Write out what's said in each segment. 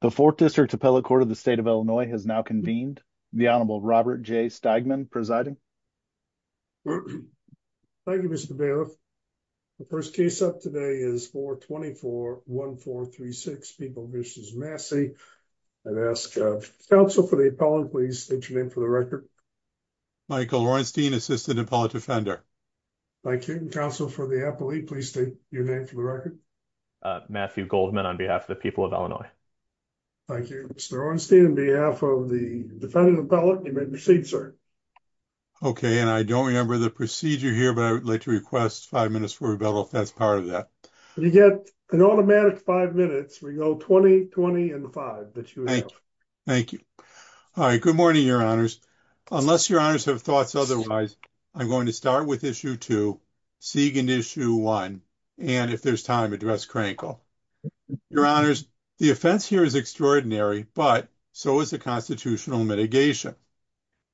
the fourth district appellate court of the state of illinois has now convened the honorable robert j steigman presiding thank you mr bailiff the first case up today is 4 24 1 4 3 6 people versus massey i've asked uh counsel for the appellate please state your name for the record michael lorenstein assistant appellate offender thank you counsel for the appellee please state your name for the record uh matthew goldman on behalf of the people of illinois thank you mr orenstein on behalf of the defendant appellate you may proceed sir okay and i don't remember the procedure here but i would like to request five minutes for rebuttal if that's part of that you get an automatic five minutes we go 20 20 and the five that you have thank you all right good morning your honors unless your honors have thoughts otherwise i'm going to start with issue two seagan issue one and if there's time address crankle your honors the offense here is extraordinary but so is the constitutional mitigation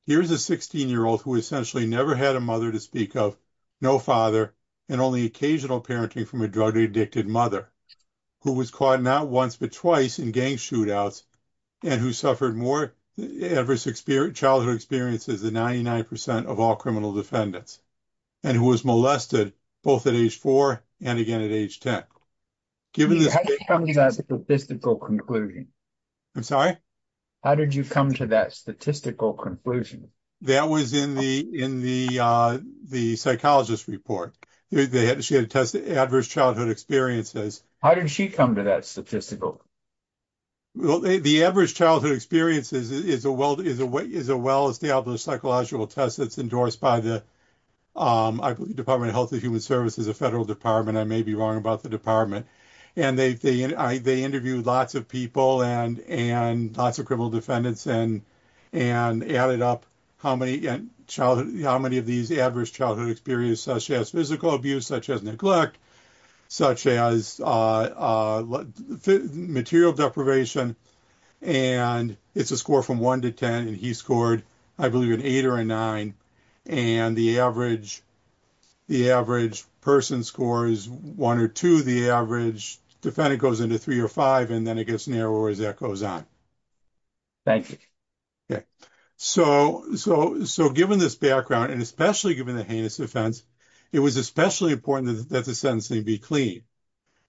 here's a 16 year old who essentially never had a mother to speak of no father and only occasional parenting from a drug addicted mother who was caught not once but twice in gang shootouts and who suffered more adverse experience childhood experiences than 99 of all criminal defendants and who was molested both at age four and again at age 10 given this statistical conclusion i'm sorry how did you come to that statistical conclusion that was in the in the uh the psychologist report they had she had tested adverse childhood experiences how did she come to that statistical well the average childhood experience is is a well is a way is a well established psychological test that's endorsed by the um i believe department of healthy human services a federal department i may be wrong about the department and they they they interviewed lots of people and and lots of criminal defendants and and added up how many childhood how many of these adverse childhood experience such as physical abuse such as neglect such as uh uh material deprivation and it's a score from one to ten and he scored i believe an eight or a nine and the average the average person scores one or two the average defendant goes into three or five and then it gets narrower as that goes on thank you okay so so so given this background and especially given the heinous offense it was especially important that the sentencing be clean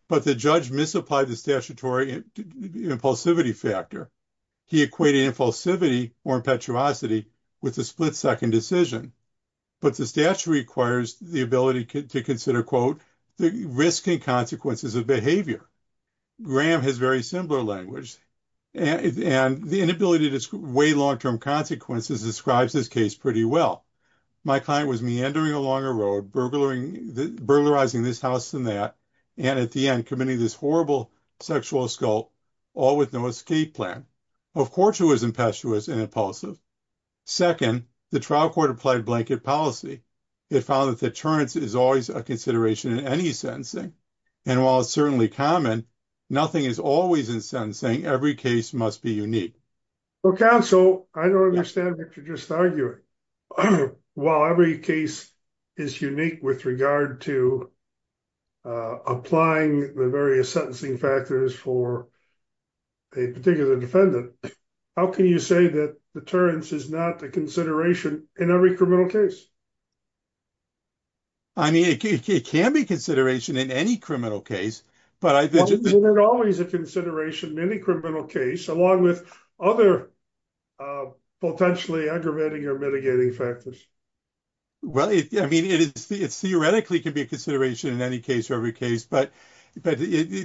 but the judge misapplied the statutory impulsivity factor he equated impulsivity or impetuosity with the split second decision but the statute requires the ability to consider quote the risk and consequences of behavior graham has very similar language and the inability to weigh long-term consequences describes this case pretty well my client was meandering along a road burglaring the burglarizing this house than that and at the end committing this horrible sexual assault all with no escape plan of course it was impetuous and impulsive second the trial court applied blanket policy it found that deterrence is always a consideration in any sentencing and while it's certainly common nothing is always in sentencing every case must be unique well counsel i don't understand what you're just arguing while every case is unique with regard to applying the various sentencing factors for a particular defendant how can you say that deterrence is not the consideration in every criminal case i mean it can be consideration in any criminal case but i think there's always a consideration in any criminal case along with other uh potentially aggravating or mitigating factors well it i mean it is it theoretically can be a consideration in any case or every case but but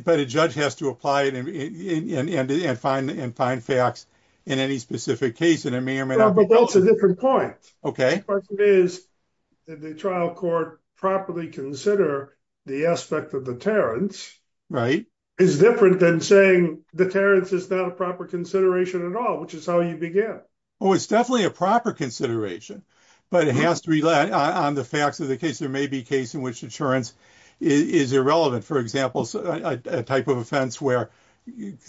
but a judge has to apply it and and and find and find facts in any specific case and it may or may not but that's a different point okay question is did the trial court properly consider the aspect of deterrence right is different than saying deterrence is not a proper consideration at all which is how you begin oh it's definitely a proper consideration but it has to rely on the facts of the case there may be case in which insurance is irrelevant for example a type of offense where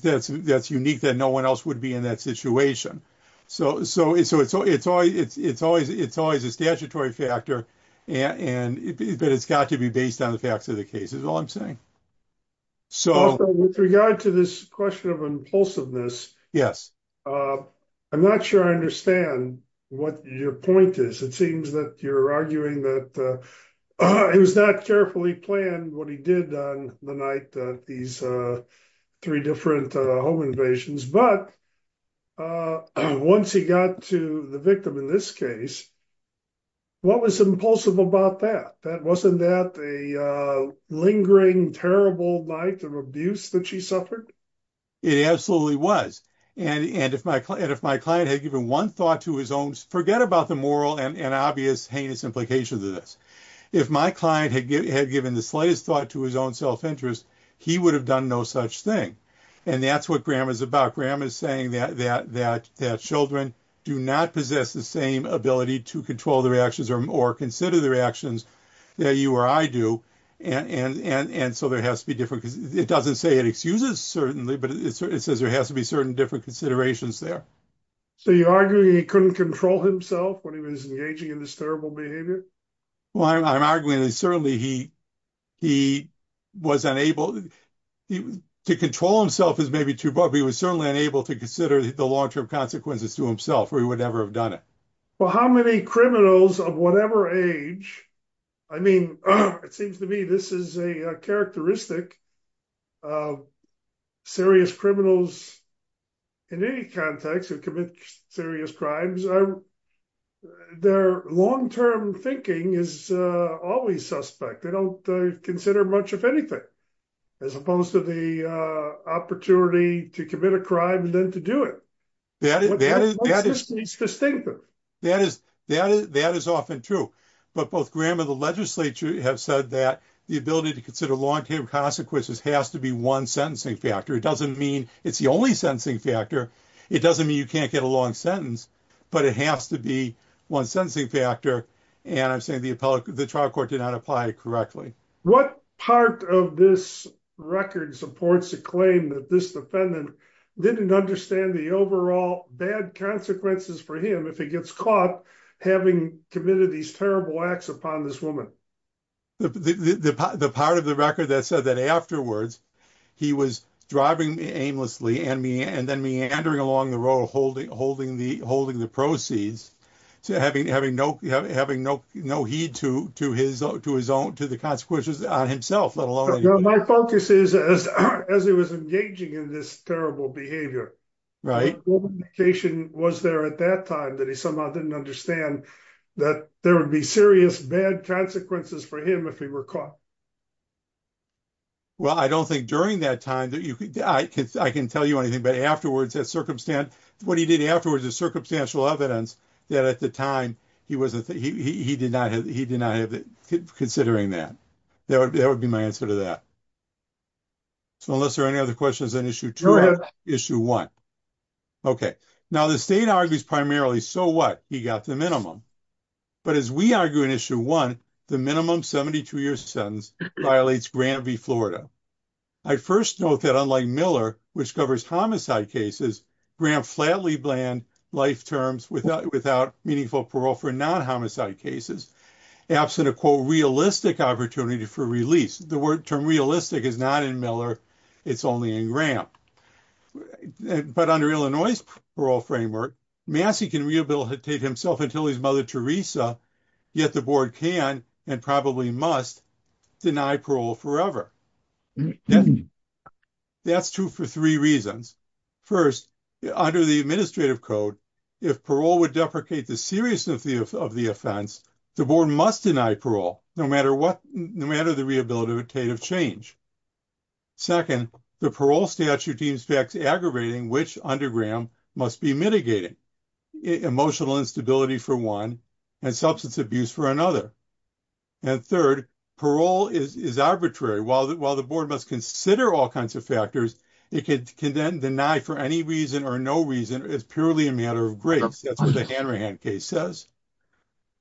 that's that's unique that no one else would be in that situation so so it's so it's always it's it's always it's always a statutory factor and and but it's got to be based on the facts of the case is all i'm saying so with regard to this question of impulsiveness yes uh i'm not sure i understand what your point is it seems that you're arguing that uh it was not carefully planned what he did on the night that these uh three different uh home invasions but uh once he got to the victim in this case what was impulsive about that that wasn't that the uh lingering terrible night of abuse that she suffered it absolutely was and and if my client if my client had given one thought to his own forget about the moral and and obvious heinous implications of this if my client had given the slightest thought to his own self-interest he would have done no such thing and that's what graham is about graham is saying that that that that children do not possess the same ability to control their actions or consider the reactions that you or i do and and and and so there has to it doesn't say it excuses certainly but it says there has to be certain different considerations there so you're arguing he couldn't control himself when he was engaging in this terrible behavior well i'm arguing that certainly he he was unable to control himself is maybe too but he was certainly unable to consider the long-term consequences to himself or he would ever have done it well how many criminals of whatever age i mean it seems to me this is a characteristic of serious criminals in any context who commit serious crimes their long-term thinking is uh always suspect they don't consider much of anything as opposed to the opportunity to commit a crime and then to do it that is distinctive that is that that is often true but both graham and the legislature have said that the ability to consider long-term consequences has to be one sentencing factor it doesn't mean it's the only sentencing factor it doesn't mean you can't get a long sentence but it has to be one sentencing factor and i'm saying the appellate the trial court did not apply correctly what part of this record supports the claim that this defendant didn't understand the overall bad consequences for him if he gets caught having committed these terrible acts upon this woman the the part of the record that said that afterwards he was driving aimlessly and me and then meandering along the road holding holding the holding the proceeds so having having no having no no heed to to his own to his own to the consequences on himself let alone my focus is as as he was engaging in this terrible behavior right what indication was there at that time that he somehow didn't understand that there would be serious bad consequences for him if he were caught well i don't think during that time that you could i could i can tell you anything but afterwards that circumstance what he did afterwards is circumstantial evidence that at the time he wasn't he he did not have he did not have considering that that would be my answer to that so unless there are any other questions on issue two issue one okay now the state argues primarily so what he got the minimum but as we argue in issue one the minimum 72 year sentence violates grant v florida i first note that unlike miller which covers homicide cases grant flatly bland life terms without without meaningful parole for non-homicide cases absent a quote realistic opportunity for release the word term realistic is not in miller it's only in grant but under illinois parole framework massey can rehabilitate himself until his mother theresa yet the board can and probably must deny parole forever that's true for three reasons first under the administrative code if parole would deprecate the seriousness of the of the offense the board must deny parole no matter what no matter the change second the parole statute deems facts aggravating which under graham must be mitigating emotional instability for one and substance abuse for another and third parole is is arbitrary while that while the board must consider all kinds of factors it could condemn deny for any reason or no reason it's purely a matter of grace that's what the hanrahan case says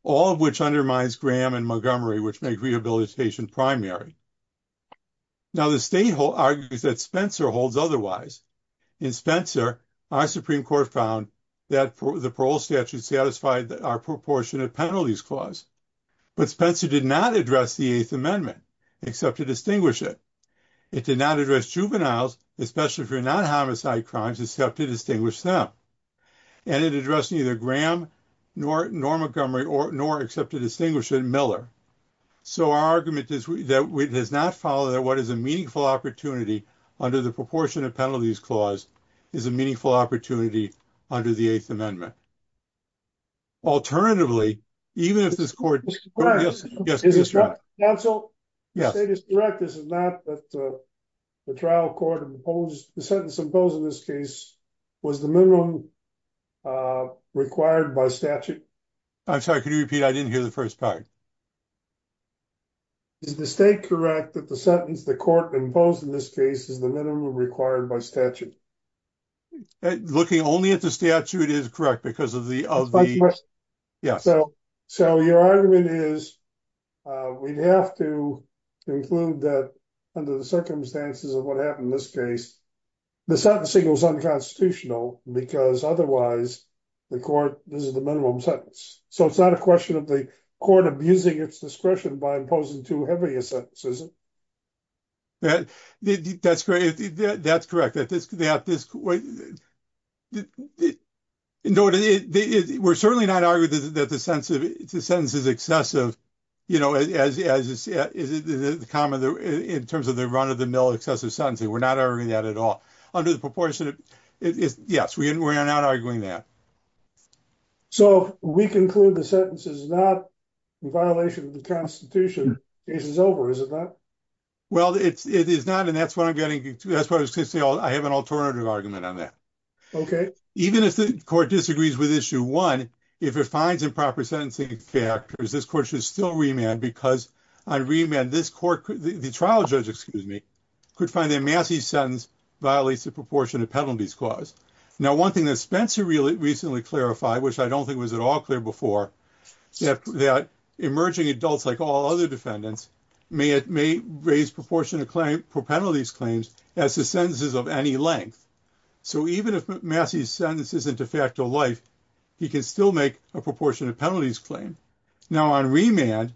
all of which undermines graham and montgomery which make rehabilitation primary now the state argues that spencer holds otherwise in spencer our supreme court found that for the parole statute satisfied that our proportionate penalties clause but spencer did not address the eighth amendment except to distinguish it it did not address juveniles especially for non-homicide crimes except to them and it addressed neither graham nor nor montgomery or nor except to distinguish in miller so our argument is that it does not follow that what is a meaningful opportunity under the proportionate penalties clause is a meaningful opportunity under the eighth amendment alternatively even if this court yes yes counsel yes status correct this is not that the trial court imposed the sentence imposed in this case was the minimum required by statute i'm sorry could you repeat i didn't hear the first part is the state correct that the sentence the court imposed in this case is the minimum required by statute looking only at the statute is correct because of the of the yes so your argument is we'd have to conclude that under the circumstances of what happened in this case the sentencing was unconstitutional because otherwise the court this is the minimum sentence so it's not a question of the court abusing its discretion by imposing too heavy a sentence isn't that that's great that's correct that this could be at this point it in order they were certainly not argued that the sense of the sentence is excessive you know as as is it the common in terms of the run of the mill excessive sentencing we're not arguing that at all under the proportionate it is yes we are not arguing that so we conclude the sentence is not in violation of the constitution this is over is it not well it's it is not and that's what i was going to say i have an alternative argument on that okay even if the court disagrees with issue one if it finds improper sentencing factors this court should still remand because i remand this court the trial judge excuse me could find their massive sentence violates the proportion of penalties clause now one thing that spencer really recently clarified which i don't think was at all clear before that emerging adults like all other defendants may it may raise proportion of claim for penalties claims as the sentences of any length so even if massey's sentence isn't a fact of life he can still make a proportion of penalties claim now on remand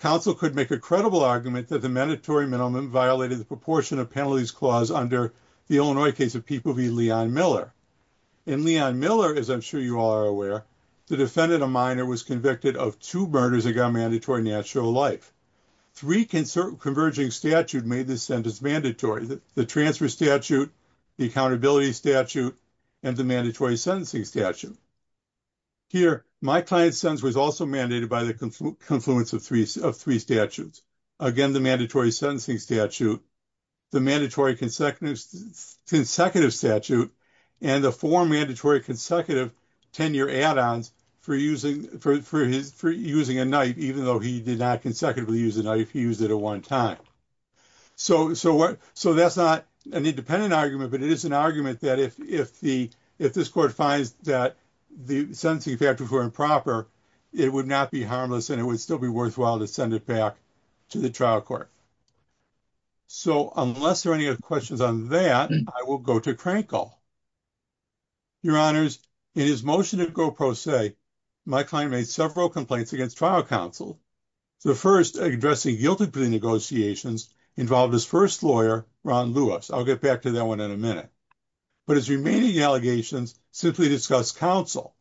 counsel could make a credible argument that the mandatory minimum violated the proportion of penalties clause under the illinois case of people v leon miller and leon miller as i'm sure you are aware the defendant a minor was convicted of two murders that got mandatory natural life three concert converging statute made this sentence mandatory the transfer statute the accountability statute and the mandatory sentencing statute here my client's sentence was also mandated by the confluence of three of three statutes again the mandatory sentencing statute the mandatory consecutive consecutive statute and the four mandatory consecutive 10-year add-ons for using for his for using a knife even though he did not consecutively use a knife he used it at one time so so what so that's not an independent argument but it is an argument that if if the if this court finds that the sentencing factors were improper it would not be harmless and it would still be worthwhile to send it back to the trial court so unless there are any questions on that i will go to krankel your honors in his motion to go pro se my client made several complaints against trial counsel the first addressing guilty plea negotiations involved his first lawyer ron lewis i'll get back to that one in a minute but his remaining allegations simply discussed counsel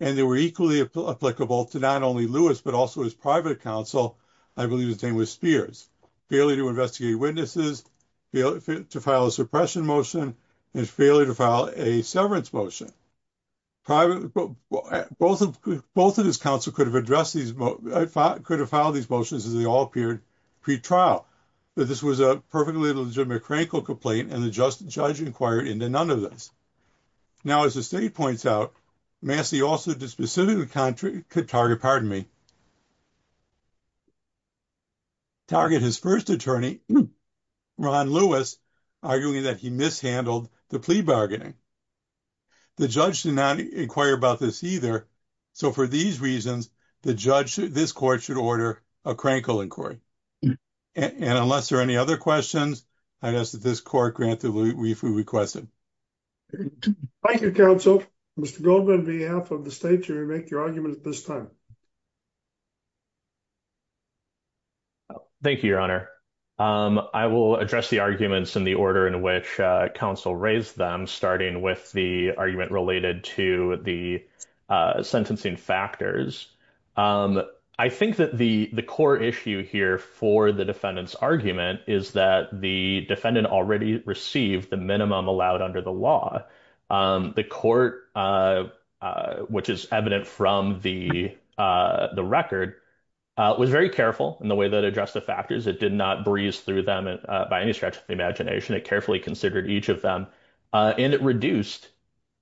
and they were equally applicable to not only lewis but also his private counsel i believe his name was spears failure to investigate witnesses to file a suppression motion and failure to file a severance motion private both of both of his counsel could have addressed these could have filed these motions as they all appeared pre-trial but this was a perfectly legitimate krankel complaint and the just judge inquired into none of this now as the state points out massey also did specifically country could target pardon me pardon me target his first attorney ron lewis arguing that he mishandled the plea bargaining the judge did not inquire about this either so for these reasons the judge this court should order a krankel inquiry and unless there are any other questions i'd ask that this court grant the brief we requested thank you counsel mr goldman behalf of the state jury make your argument at this time thank you your honor i will address the arguments in the order in which counsel raised them starting with the argument related to the sentencing factors i think that the the core issue here for the defendant's argument is that the defendant already received the minimum allowed under the law the court which is evident from the the record was very careful in the way that addressed the factors it did not breeze through them by any stretch of the imagination it carefully considered each of them and it reduced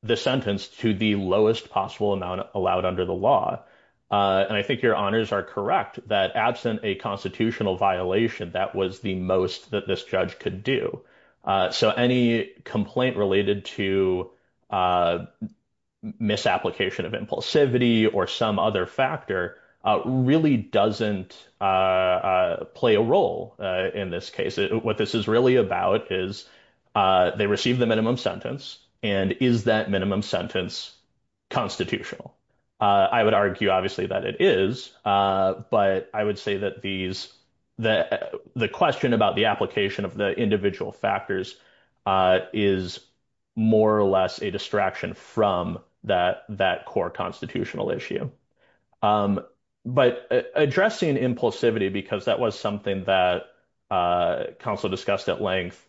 the sentence to the lowest possible amount allowed under the law and i think your honors are correct that absent a constitutional violation that was the most that this judge could do so any complaint related to misapplication of impulsivity or some other factor really doesn't play a role in this case what this is really about is they receive the minimum sentence and is that minimum sentence constitutional i would argue obviously that it is but i would say that these the the question about the application of the individual factors is more or less a distraction from that that core constitutional issue but addressing impulsivity because that was something that counsel discussed at length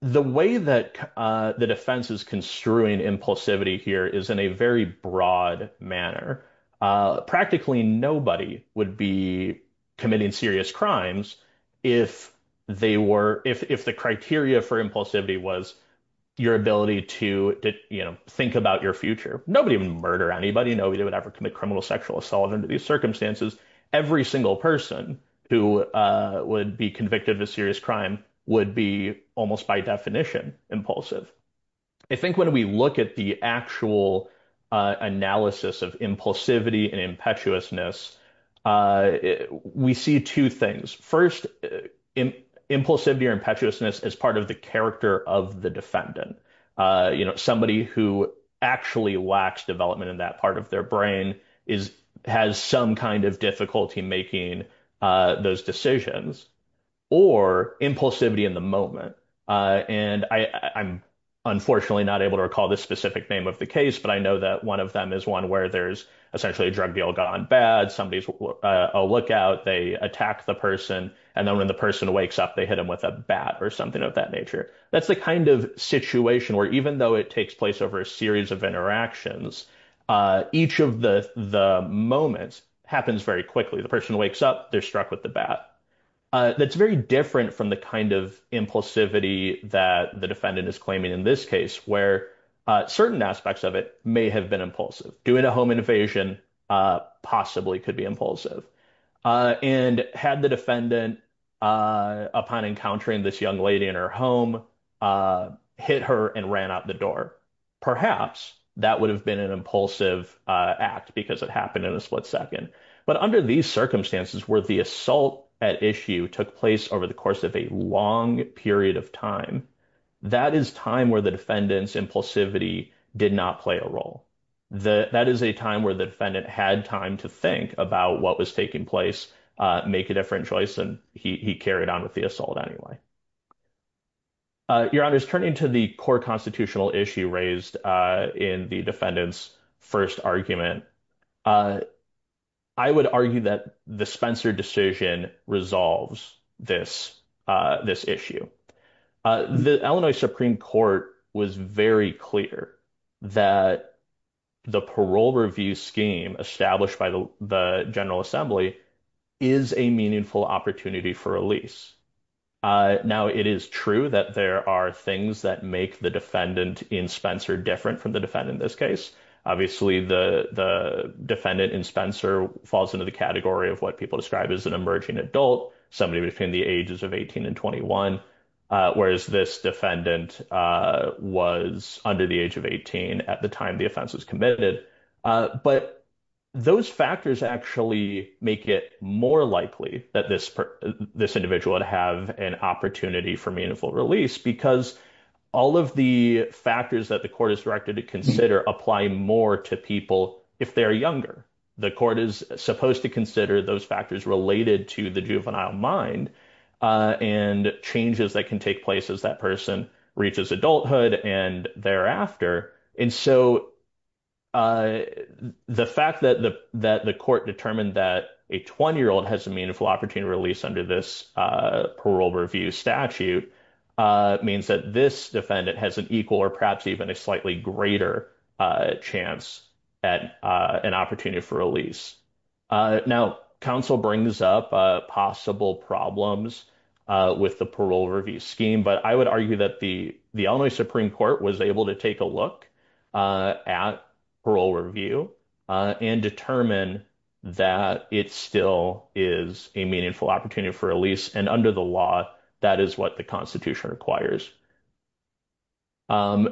the way that the defense is construing impulsivity here is in a broad manner practically nobody would be committing serious crimes if they were if if the criteria for impulsivity was your ability to to you know think about your future nobody would murder anybody nobody would ever commit criminal sexual assault under these circumstances every single person who would be convicted of a serious crime would be almost by definition impulsive i think when we look at the actual analysis of impulsivity and impetuousness we see two things first in impulsivity or impetuousness as part of the character of the defendant you know somebody who actually lacks development in that part of their brain is has some kind of difficulty making uh those decisions or impulsivity in the moment uh and i i'm unfortunately not able to recall the specific name of the case but i know that one of them is one where there's essentially a drug deal gone bad somebody's a lookout they attack the person and then when the person wakes up they hit him with a bat or something of that nature that's the kind of situation where even though it takes place over a series of interactions uh each of the the moments happens very quickly the person wakes up they're struck with the bat uh that's very different from the kind of impulsivity that the defendant is claiming in this case where uh certain aspects of it may have been impulsive doing a home invasion uh possibly could be impulsive uh and had the defendant uh upon encountering this young lady in her home uh hit her and ran out the door perhaps that would have been an impulsive uh act because it happened in a split second but under these circumstances where the assault at issue took place over the course of a long period of time that is time where the defendant's impulsivity did not play a role the that is a time where the defendant had time to think about what was taking place uh make a different choice and he carried on with the assault anyway uh your honor's turning to the core constitutional issue raised uh in the defendant's first argument uh i would argue that the spencer decision resolves this uh this issue uh the illinois supreme court was very clear that the parole review scheme established by the the general assembly is a meaningful opportunity for release uh now it is true that there are things that make the defendant in spencer different from the defendant in this case obviously the the defendant in spencer falls into the category of what people describe as an emerging adult somebody between the ages of 18 and 21 uh whereas this defendant uh was under the age of 18 at the time the offense was committed uh but those factors actually make it more likely that this this individual would have an opportunity for meaningful release because all of the factors that the court is directed to consider apply more to people if they're younger the court is supposed to consider those factors related to the adulthood and thereafter and so uh the fact that the that the court determined that a 20 year old has a meaningful opportunity release under this uh parole review statute uh means that this defendant has an equal or perhaps even a slightly greater uh chance at uh an opportunity for release uh now council brings up uh possible problems uh with the parole review scheme but i would argue that the the illinois supreme court was able to take a look uh at parole review uh and determine that it still is a meaningful opportunity for a lease and under the law that is what the constitution requires um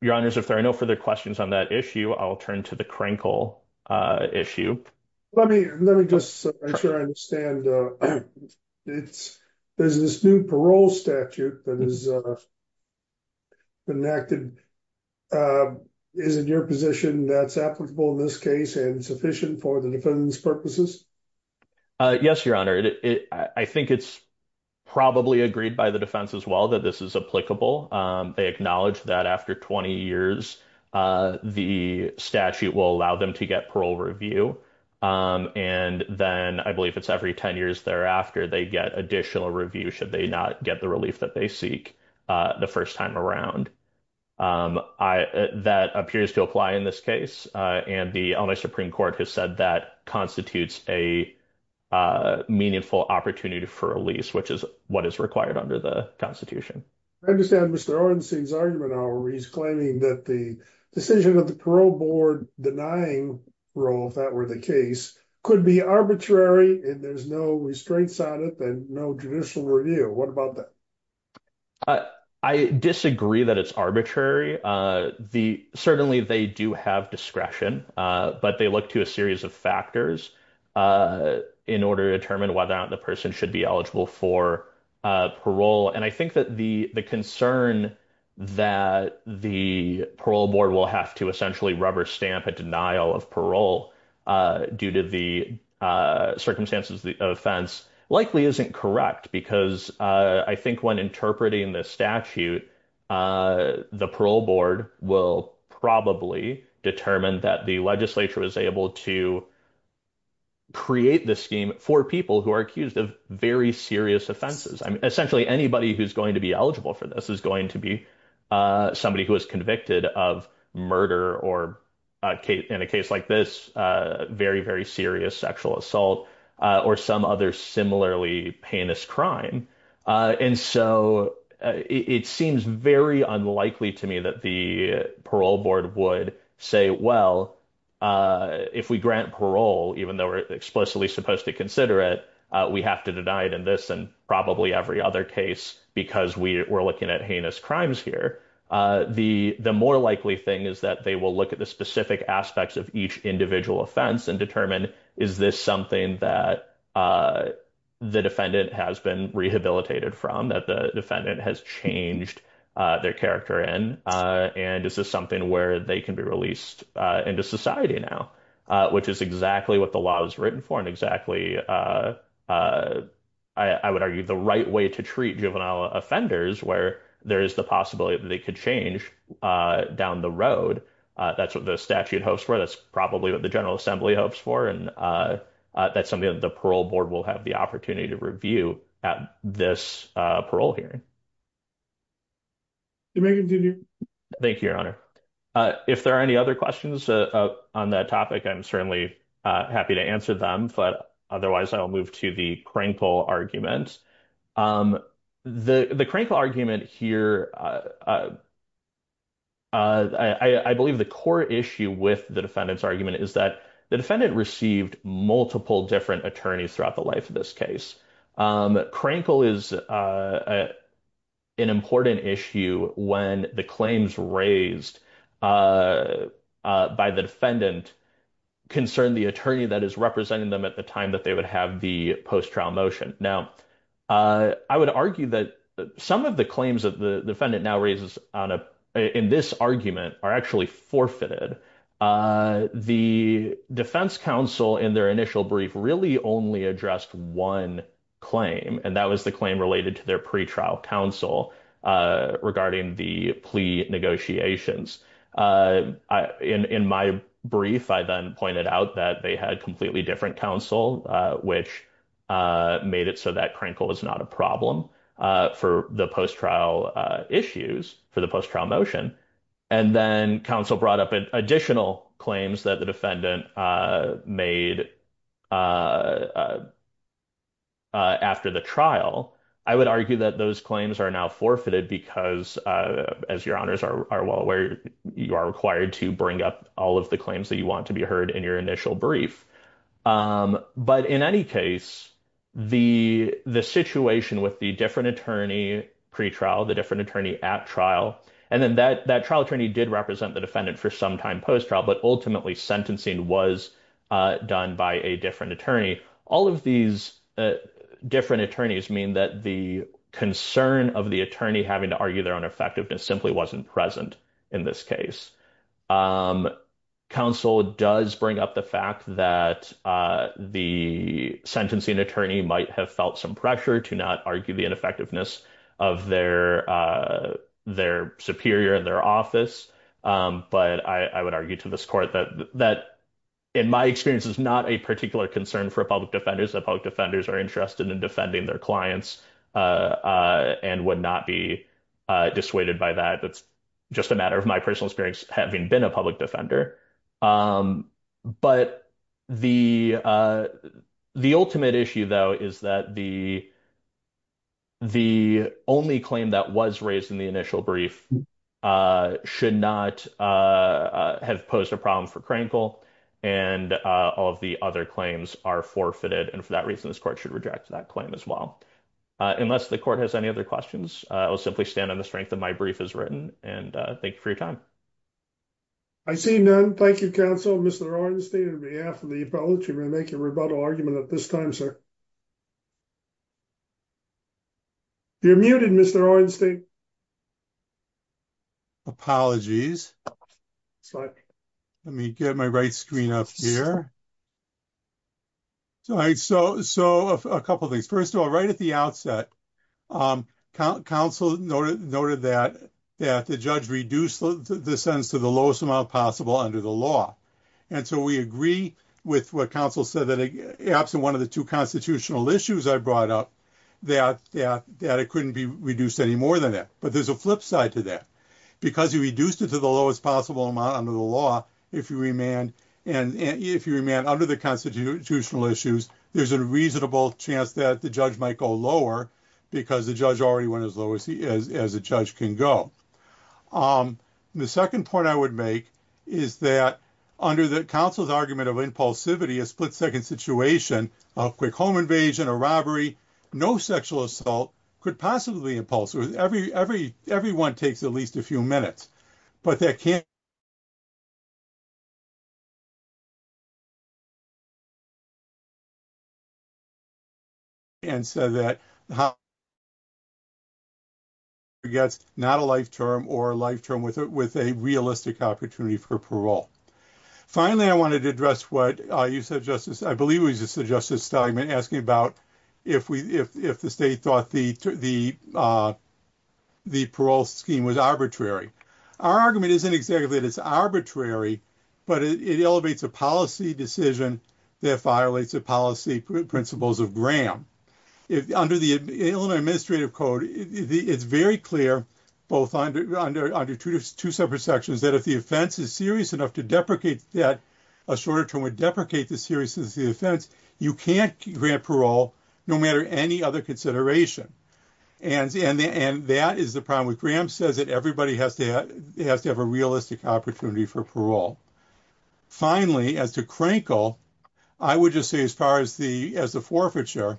your honors if there are no further questions on that issue i'll turn to the crinkle issue let me let me just make sure i understand uh it's there's this new parole statute that is uh enacted uh is it your position that's applicable in this case and sufficient for the defense purposes uh yes your honor it i think it's probably agreed by the defense as well that this is applicable um they acknowledge that after 20 years uh the statute will allow them to get parole review um and then i believe it's every 10 years thereafter they get additional review should they not get the relief that they seek uh the first time around um i that appears to apply in this case uh and the only supreme court has said that constitutes a uh meaningful opportunity for a lease which is what is required under the constitution i understand mr orenstein's argument however he's claiming that the decision of the parole board denying parole if that were the case could be arbitrary and there's no restraints on it and no judicial review what about that uh i disagree that it's arbitrary uh the certainly they do have discretion uh but they look to a for uh parole and i think that the the concern that the parole board will have to essentially rubber stamp a denial of parole uh due to the uh circumstances the offense likely isn't correct because uh i think when interpreting the statute uh the parole board will probably determine that legislator was able to create the scheme for people who are accused of very serious offenses i mean essentially anybody who's going to be eligible for this is going to be uh somebody who is convicted of murder or in a case like this uh very very serious sexual assault uh or some other similarly heinous crime uh and so it seems very unlikely to me that the parole board would say well uh if we grant parole even though we're explicitly supposed to consider it uh we have to deny it in this and probably every other case because we we're looking at heinous crimes here uh the the more likely thing is that they will look at the specific aspects of each individual offense and determine is this something that uh the defendant has been rehabilitated from that defendant has changed uh their character in uh and is this something where they can be released uh into society now uh which is exactly what the law is written for and exactly uh uh i i would argue the right way to treat juvenile offenders where there is the possibility that they could change uh down the road uh that's what the statute hopes for that's probably what the general assembly hopes for and uh uh that's something that the parole board will have the opportunity to review at this uh parole hearing thank you your honor uh if there are any other questions uh on that topic i'm certainly uh happy to answer them but otherwise i'll move to the crankle argument um the the crankle argument here uh uh uh i i believe the core issue with the defendant's argument is that the defendant received multiple different attorneys throughout the life of this case um crankle is uh an important issue when the claims raised uh by the defendant concern the attorney that is representing them at the time that they would have the post-trial motion now uh i would argue that some of the claims that the defendant now raises on a in this argument are actually forfeited uh the defense counsel in their initial brief really only addressed one claim and that was the claim related to their pre-trial counsel uh regarding the plea negotiations uh in in my brief i then pointed out that they had completely different counsel uh which uh made it so that crankle was not a problem uh for the post-trial uh issues for the post-trial motion and then counsel brought up additional claims that the defendant uh made uh uh after the trial i would argue that those claims are now forfeited because uh as your honors are well aware you are required to bring up all of the claims that you want to be heard in your initial brief um but in any case the the situation with the different attorney pre-trial the different attorney at trial and then that that trial attorney did represent the defendant for some time post-trial but ultimately sentencing was uh done by a different attorney all of these different attorneys mean that the concern of the attorney having to argue their own effectiveness simply wasn't present in this case um counsel does bring up the fact that uh the sentencing attorney might have felt some pressure to not argue the ineffectiveness of their uh their superior in their office um but i i would argue to this court that that in my experience is not a particular concern for public defenders that public defenders are interested in defending their clients uh uh and would not be uh dissuaded by that it's just a matter of my personal experience having been a public defender um but the uh the ultimate issue though is that the the only claim that was raised in the initial brief uh should not uh have posed a problem for krankel and uh all of the other claims are forfeited and for that reason this court should reject that claim as well uh unless the court has any other questions i will simply stand on the strength of my brief as written and uh thank you for your time i see none thank you counsel mr arnstein on behalf of the apology we're making a rebuttal argument at this time sir you're muted mr arnstein apologies let me get my right screen up here all right so so a couple things first of all right at the outset um council noted noted that that the judge reduced the sentence to the lowest amount possible under the law and so we agree with what council said that absent one of the two constitutional issues i brought up that that that it couldn't be reduced any more than that but there's a flip side to that because you reduced it to the lowest possible amount under the law if you remand and if you remand under the constitutional issues there's a reasonable chance that the judge might go lower because the judge already went as low as he is as a judge can go um the second point i would make is that under the council's argument of impulsivity a split-second situation a quick home invasion a robbery no sexual assault could possibly impulse with every every everyone takes at least a few minutes but that can't and so that how you get not a life term or a life term with it with a realistic opportunity for parole finally i wanted to address what uh you said justice i believe we just suggested stigma asking about if we if if the state thought the the uh the parole scheme was arbitrary our argument isn't exactly that it's arbitrary but it elevates a policy decision that violates the policy principles of graham if under the administrative code it's very clear both under under under two separate sections that if the offense is serious enough to deprecate that a shorter term would deprecate the seriousness of the offense you can't grant parole no matter any other consideration and and and that is the problem with graham says that everybody has to has to have a realistic opportunity for parole finally as to crankle i would just say as far as the as the forfeiture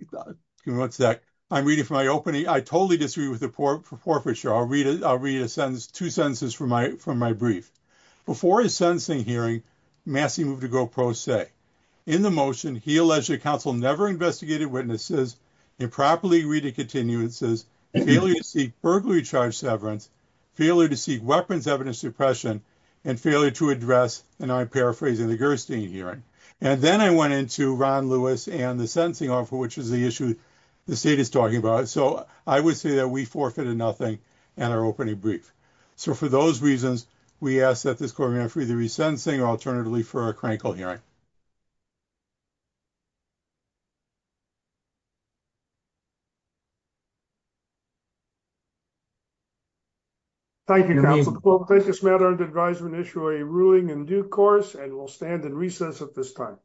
give me one sec i'm reading for my opening i totally disagree with the poor for forfeiture i'll read it i'll read a sentence two sentences from my from my brief before his sentencing hearing massey moved to go pro se in the motion he alleged the council never investigated witnesses improperly reading continuances failure to seek burglary charge severance failure to seek weapons evidence suppression and failure to address and i'm paraphrasing the gerstein hearing and then i went into ron lewis and the sentencing offer which is the issue the state is talking about so i would say that we forfeited nothing and our opening brief so for those reasons we ask that this program free the resentencing alternatively for a critical hearing thank you council thank this matter and advisement issue a ruling in due course and we'll stand in recess at this time